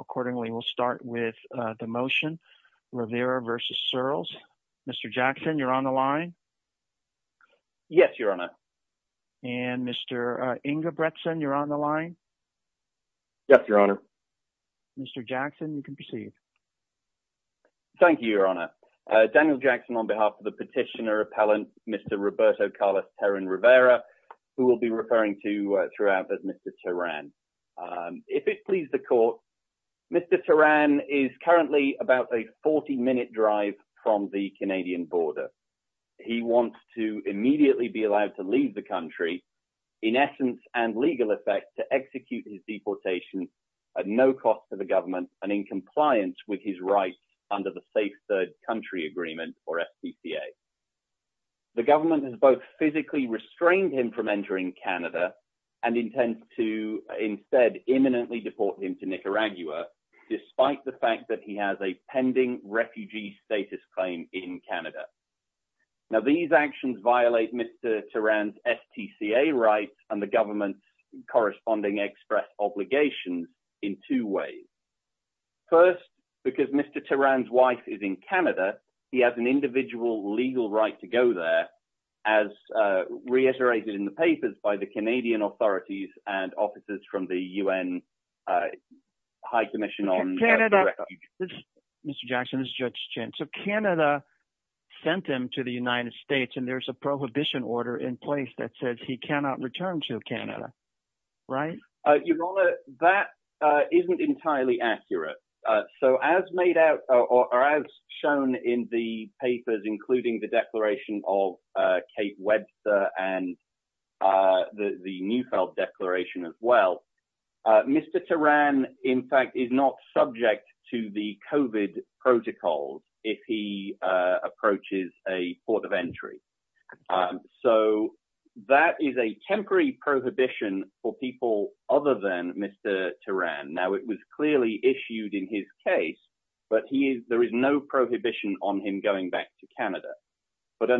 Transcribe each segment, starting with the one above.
Accordingly, we'll start with the motion. Rivera versus Searls. Mr. Jackson, you're on the line. Yes, Your Honor. And Mr. Ingebretson, you're on the line. Yes, Your Honor. Mr. Jackson, you can proceed. Thank you, Your Honor. Daniel Jackson on behalf of the petitioner appellant, Mr. Roberto Carlos Terran Rivera, who we'll be referring to throughout as Mr. Terran. If it pleases the court, Mr. Terran is currently about a 40-minute drive from the Canadian border. He wants to immediately be allowed to leave the country, in essence and legal effect, to execute his deportation at no cost to the government and in compliance with his rights under the Safe Third Country Agreement, or SCCA. The government has both physically restrained him from entering Canada and intends to instead imminently deport him to Nicaragua, despite the fact that he has a pending refugee status claim in Canada. Now, these actions violate Mr. Terran's STCA rights and the government's corresponding express obligation in two ways. First, because Mr. Terran's wife is in Canada, he has an individual legal right to go there, as reiterated in the papers by the Canadian authorities and officers from the UN High Commission on... Mr. Jackson, this is Judge Chin. So, Canada sent him to the United States and there's a prohibition order in place that says he cannot return to Canada, right? Your Honour, that isn't entirely accurate. So, as made out or as shown in the papers, including the declaration of Kate Webster and the Neufeld Declaration as well, Mr. Terran, in fact, is not subject to the COVID protocols if he approaches a port of entry. So, that is a temporary prohibition for people other than Mr. Terran. Now, it was clearly issued in his case, but there is no prohibition on him going back to Canada. But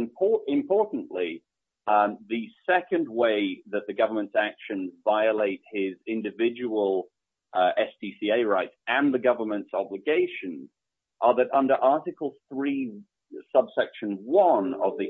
importantly, the second way that the government's actions violate his individual STCA rights and the government's obligations are that under Article 3, Subsection 1 of the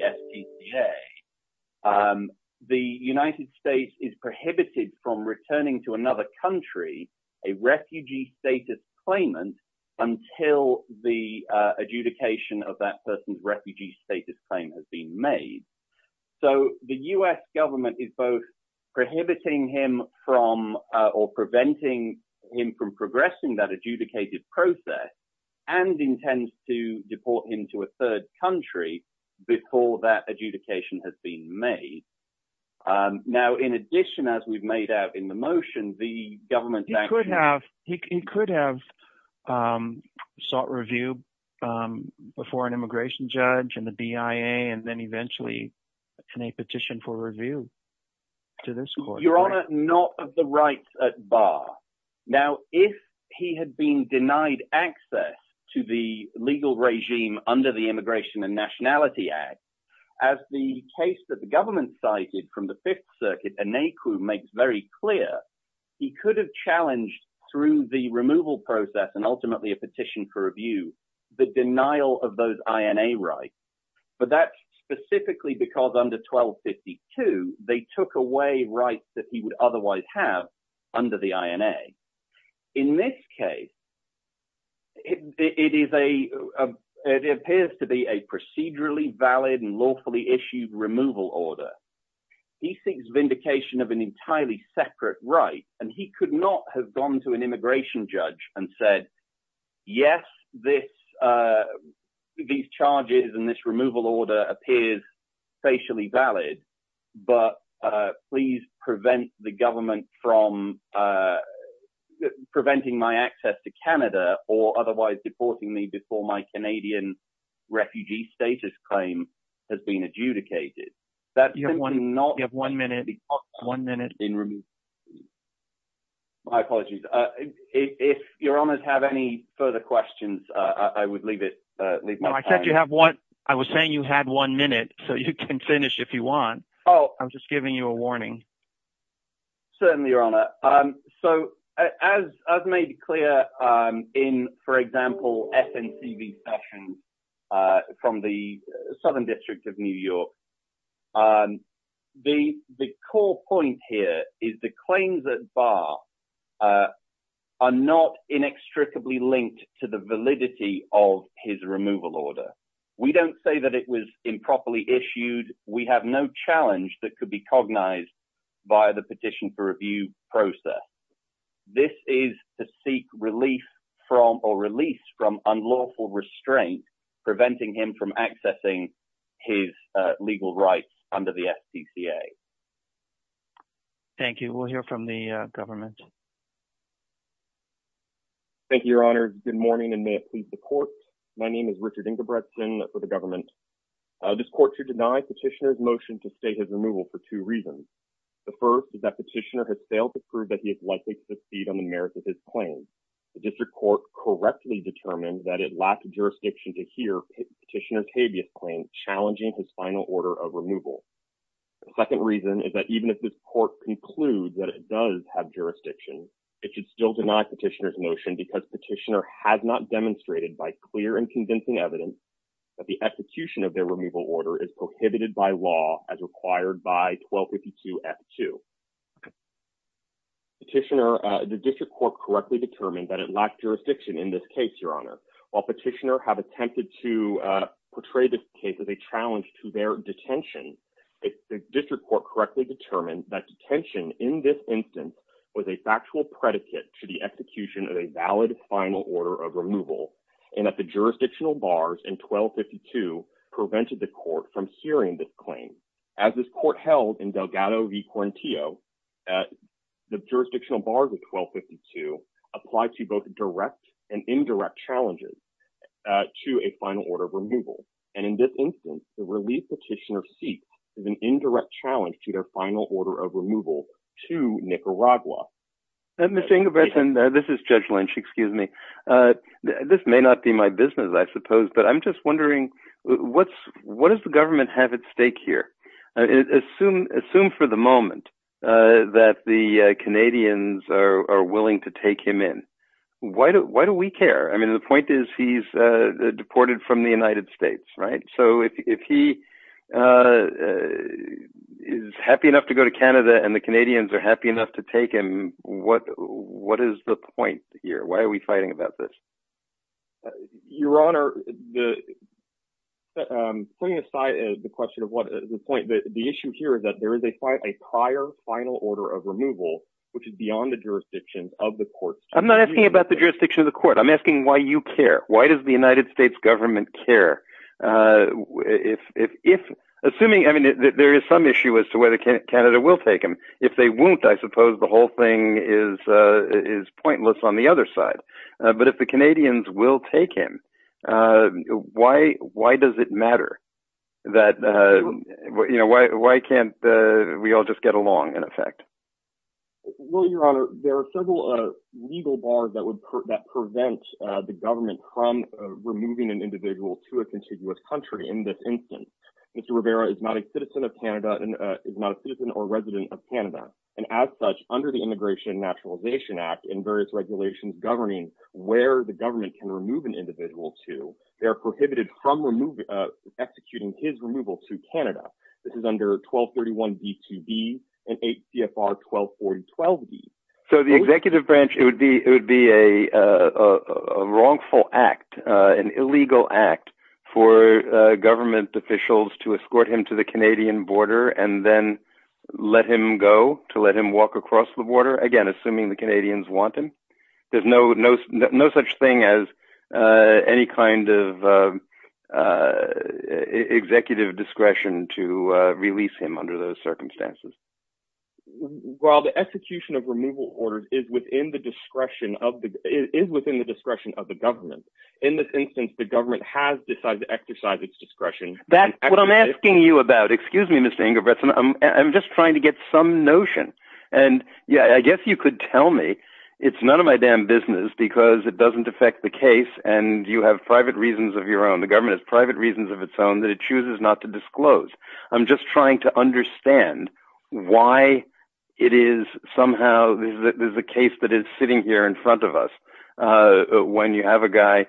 STCA, the United States is prohibited from returning to another country, a refugee status claimant, until the adjudication of that person's refugee status claim has been made. So, the U.S. government is both prohibiting him from, or preventing him from progressing that adjudicated process and intends to deport him to a third country before that adjudication has been made. Now, in addition, as we've made out in the motion, the government's actions- He could have sought review before an immigration judge and the BIA, and then eventually, in a petition for review to this court. Your Honor, not of the rights at bar. Now, if he had been denied access to the legal regime under the Immigration and Nationality Act, as the case that the government cited from the Fifth Circuit and NACU makes very clear, he could have challenged through the removal process and ultimately a petition for review, the denial of those INA rights. But that's specifically because under 1252, they took away rights that he would otherwise have under the INA. In this case, it appears to be a procedurally valid and lawfully issued removal order. He seeks vindication of an entirely separate right, and he could not have gone to an immigration judge and said, yes, these charges and this removal order appears facially valid, but please prevent the government from preventing my access to Canada or otherwise deporting me before my Canadian refugee status claim has been adjudicated. That's simply not- You have one minute. One minute. My apologies. If Your Honor have any further questions, I would leave it. No, I said you have one. I was saying you had one minute, so you can finish if you want. Oh. I'm just giving you a warning. Certainly, Your Honor. So as made clear in, for example, SNCB session from the Southern District of New York, the core point here is the claims at bar are not inextricably linked to the validity of his removal order. We don't say that it was improperly issued. We have no challenge that could be cognized by the petition for review process. This is to seek relief from, or release from unlawful restraint preventing him from accessing his legal rights under the SPCA. Thank you. We'll hear from the government. Thank you, Your Honor. Good morning and may it please the court. My name is Richard Ingebrigtsen for the government. This court should deny petitioner's motion to state his removal for two reasons. The first is that petitioner has failed to prove that he is likely to succeed on the merits of his claim. The district court correctly determined that it lacked jurisdiction to hear petitioner Kabe's claim challenging his final order of removal. The second reason is that even if this court concludes that it does have jurisdiction, it should still deny petitioner's motion because petitioner has not demonstrated by clear and convincing evidence that the execution of their removal order is prohibited by law as required by 1252 F2. Petitioner, the district court correctly determined that it lacked jurisdiction in this case, Your Honor. While petitioner have attempted to portray this case as a challenge to their detention, the district court correctly determined that detention in this instance was a factual predicate to the execution of a valid final order of removal and that the jurisdictional bars in 1252 prevented the court from hearing this claim. As this court held in Delgado v. Quarantio, the jurisdictional bars of 1252 applied to both direct and indirect challenges to a final order of removal. And in this instance, the relief petitioner seeks is an indirect challenge to their final order of removal to Nicaragua. And Mr. Ingobertson, this is Judge Lynch, excuse me. This may not be my business, I suppose, but I'm just wondering, what does the government have at stake here? Assume for the moment that the Canadians are willing to take him in. Why do we care? I mean, the point is he's deported from the United States, right? So if he is happy enough to go to Canada and the Canadians are happy enough to take him, what is the point here? Why are we fighting about this? Your Honor, putting aside the question of what is the point, the issue here is that there is a prior final order of removal, which is beyond the jurisdiction of the court. I'm not asking about the jurisdiction of the court. I'm asking why you care. Why does the United States government care? Assuming, I mean, there is some issue as to whether Canada will take him. If they won't, I suppose the whole thing is pointless on the other side. But if the Canadians will take him, why does it matter that, why can't we all just get along in effect? Well, Your Honor, there are several legal bars that would prevent the government from removing an individual to a contiguous country in this instance. Mr. Rivera is not a citizen of Canada and is not a citizen or resident of Canada. And as such, under the Immigration and Naturalization Act and various regulations governing where the government can remove an individual to, they're prohibited from executing his removal to Canada. This is under 1231B2B and 8 CFR 124012B. So the executive branch, it would be a wrongful act, an illegal act for government officials to escort him to the Canadian border and then let him go, to let him walk across the border. Again, assuming the Canadians want him. There's no such thing as any kind of executive discretion to release him under those circumstances. Well, the execution of removal orders is within the discretion of the government. In this instance, the government has decided to exercise its discretion. That's what I'm asking you about. Excuse me, Mr. Ingebrigtsen. I'm just trying to get some notion. And yeah, I guess you could tell me it's none of my damn business because it doesn't affect the case and you have private reasons of your own. The government has private reasons of its own that it chooses not to disclose. I'm just trying to understand why it is somehow, there's a case that is sitting here in front of us when you have a guy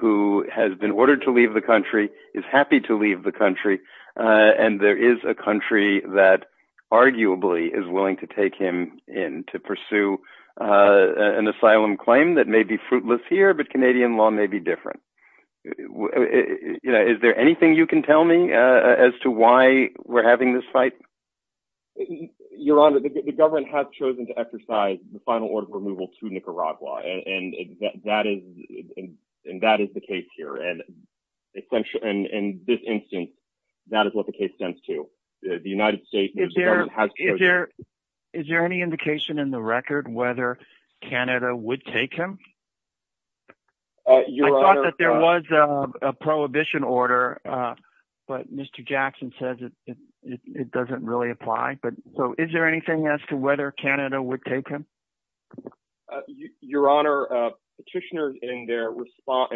who has been ordered to leave the country, is happy to leave the country. And there is a country that arguably is willing to take him in to pursue an asylum claim that may be fruitless here, but Canadian law may be different. Is there anything you can tell me as to why we're having this fight? Your Honor, the government has chosen to exercise the final order of removal to Nicaragua. And that is the case here. And in this instance, that is what the case stands to. The United States has chosen- Is there any indication in the record whether Canada would take him? Your Honor- I thought that there was a prohibition order, but Mr. Jackson says it doesn't really apply. So is there anything as to whether Canada would take him? Your Honor, petitioners in their reply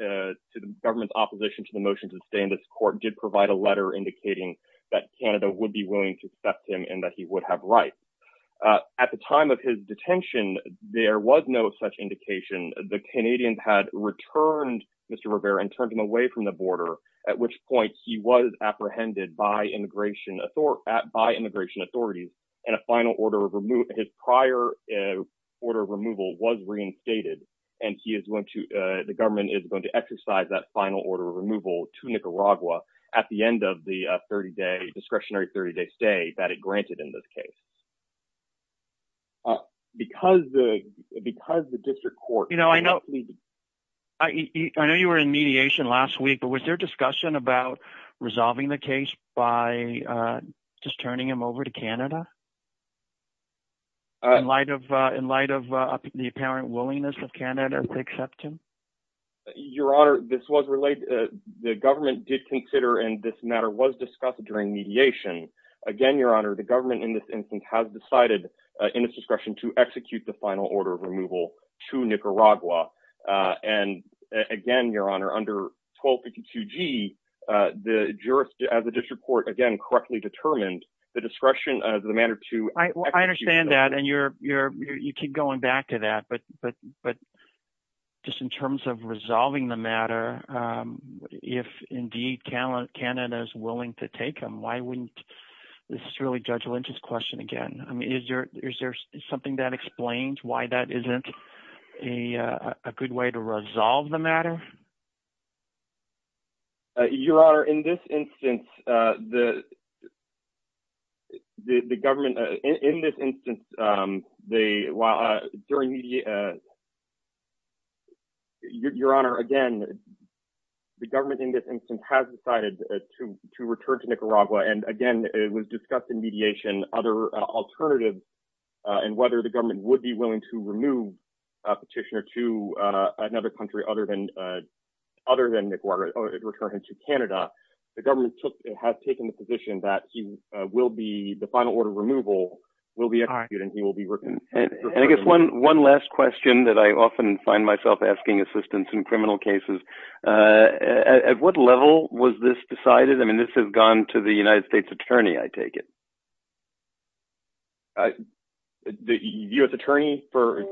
to the government's opposition to the motion to stay in this court did provide a letter indicating that Canada would be willing to accept him and that he would have rights. At the time of his detention, there was no such indication. The Canadians had returned Mr. Rivera and turned him away from the border, at which point he was apprehended by immigration authorities and his prior order of removal was reinstated. And the government is going to exercise that final order of removal to Nicaragua at the end of the discretionary 30-day stay that it granted in this case. Because the district court- You know, I know you were in mediation last week, but was there discussion about resolving the case by just turning him over to Canada in light of the apparent willingness of Canada to accept him? Your Honor, this was related- The government did consider, and this matter was discussed during mediation. Again, Your Honor, the government in this instance has decided in its discretion to execute the final order of removal to Nicaragua. And again, Your Honor, under 1252G, the district court, again, correctly determined the discretion as a matter to execute- I understand that, and you keep going back to that. But just in terms of resolving the matter, if indeed Canada is willing to take him, why wouldn't- This is really Judge Lynch's question again. I mean, is there something that explains why that isn't a good way to resolve the matter? Your Honor, in this instance, Your Honor, again, the government in this instance has decided to return to Nicaragua. And again, it was discussed in mediation, other alternatives, and whether the government would be willing to remove a petitioner to another country other than Nicaragua, or return him to Canada, the government has taken the position that the final order of removal will be executed and he will be returned. And I guess one last question that I often find myself asking assistants in criminal cases, at what level was this decided? I mean, this has gone to the United States Attorney, I take it. The U.S. Attorney for-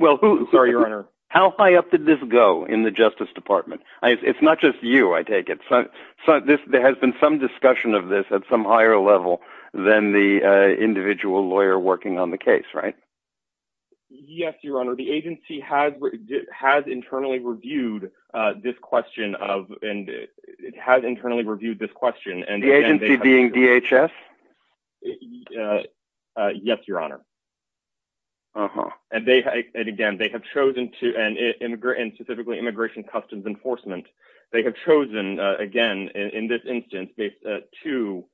Well, who- I'm sorry, Your Honor. How high up did this go in the Justice Department? It's not just you, I take it. There has been some discussion of this at some higher level than the individual lawyer working on the case, right? Yes, Your Honor. The agency has internally reviewed this question of, and it has internally reviewed this question, and again- The agency being DHS? Yes, Your Honor. Uh-huh. And again, they have chosen to, and specifically Immigration Customs Enforcement, they have chosen, again, in this instance, to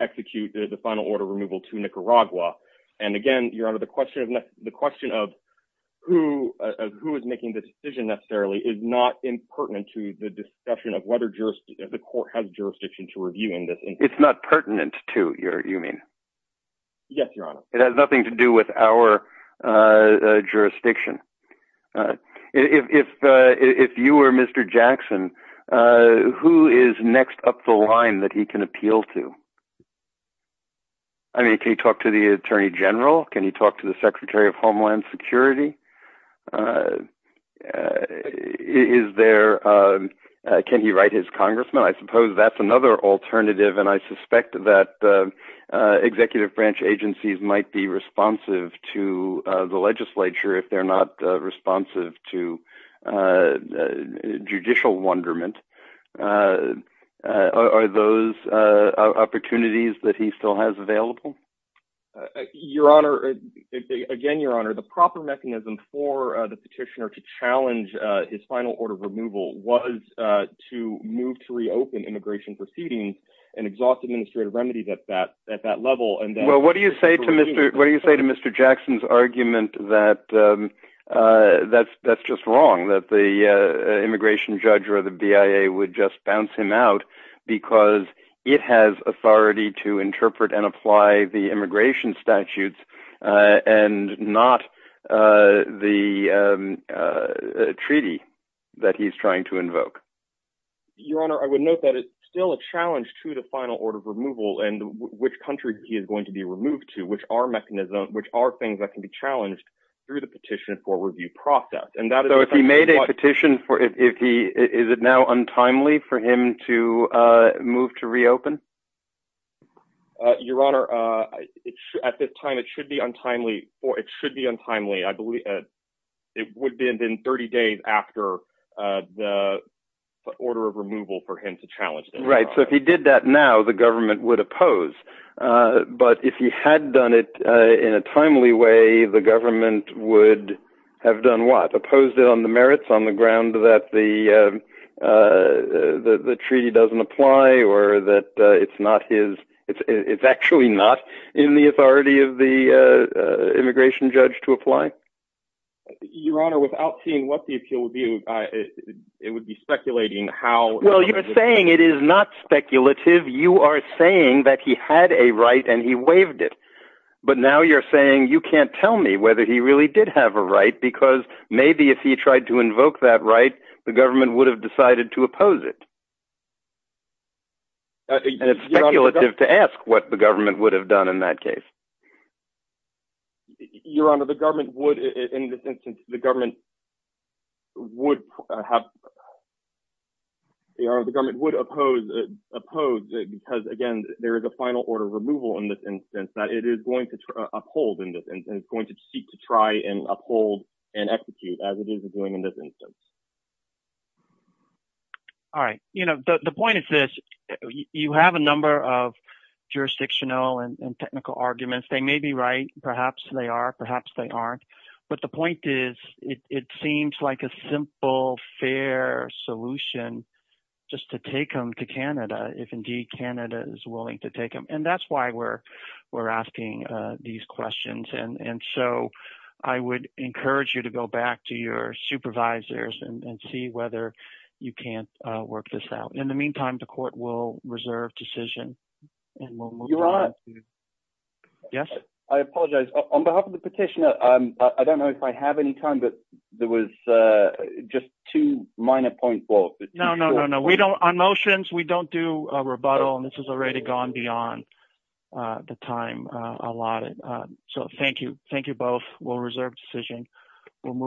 execute the final order of removal to Nicaragua. And again, Your Honor, the question of who is making the decision necessarily is not impertinent to the discussion of whether the court has jurisdiction to review in this instance. It's not pertinent to, you mean? Yes, Your Honor. It has nothing to do with our jurisdiction. If you were Mr. Jackson, who is next up the line that he can appeal to? I mean, can he talk to the Attorney General? Can he talk to the Secretary of Homeland Security? Is there, can he write his congressman? I suppose that's another alternative, and I suspect that executive branch agencies might be responsive to the legislature if they're not responsive to judicial wonderment. Are those opportunities that he still has available? Your Honor, again, Your Honor, the proper mechanism for the petitioner to challenge his final order of removal was to move to reopen immigration proceedings and exhaust administrative remedies at that level. Well, what do you say to Mr. Jackson's argument that that's just wrong, that the immigration judge or the BIA would just bounce him out because it has authority to interpret and apply the immigration statutes and not the treaty that he's trying to invoke? Your Honor, I would note that it's still a challenge to the final order of removal and which country he is going to be removed to, which are mechanisms, which are things that can be challenged through the petition for review process. And that is- So if he made a petition for, is it now untimely for him to move to reopen? Your Honor, at this time, it should be untimely, or it should be untimely. I believe it would have been 30 days after the order of removal for him to challenge that. Right, so if he did that now, the government would oppose. But if he had done it in a timely way, the government would have done what? Opposed it on the merits, on the ground that the treaty doesn't apply or that it's not his, it's actually not in the authority of the immigration judge to apply? Your Honor, without seeing what the appeal would be, it would be speculating how- Well, you're saying it is not speculative. You are saying that he had a right and he waived it. But now you're saying you can't tell me whether he really did have a right, because maybe if he tried to invoke that right, the government would have decided to oppose it. And it's speculative to ask what the government would have done in that case. Your Honor, the government would, in this instance, the government would have, Your Honor, the government would oppose it, because again, there is a final order of removal in this instance that it is going to uphold in this instance and it's going to seek to try and uphold and execute as it is doing in this instance. All right, the point is this, you have a number of jurisdictional and technical arguments. They may be right, perhaps they are, perhaps they aren't. But the point is, it seems like a simple, fair solution just to take them to Canada if indeed Canada is willing to take them. And that's why we're asking these questions. And so I would encourage you to go back to your supervisors and see whether you can't work this out. In the meantime, the court will reserve decision. And we'll move on. Your Honor. Yes? I apologize, on behalf of the petitioner, I don't know if I have any time, but there was just two minor points. No, no, no, no. On motions, we don't do a rebuttal and this has already gone beyond the time allotted. So thank you. We'll reserve decision. We'll move on.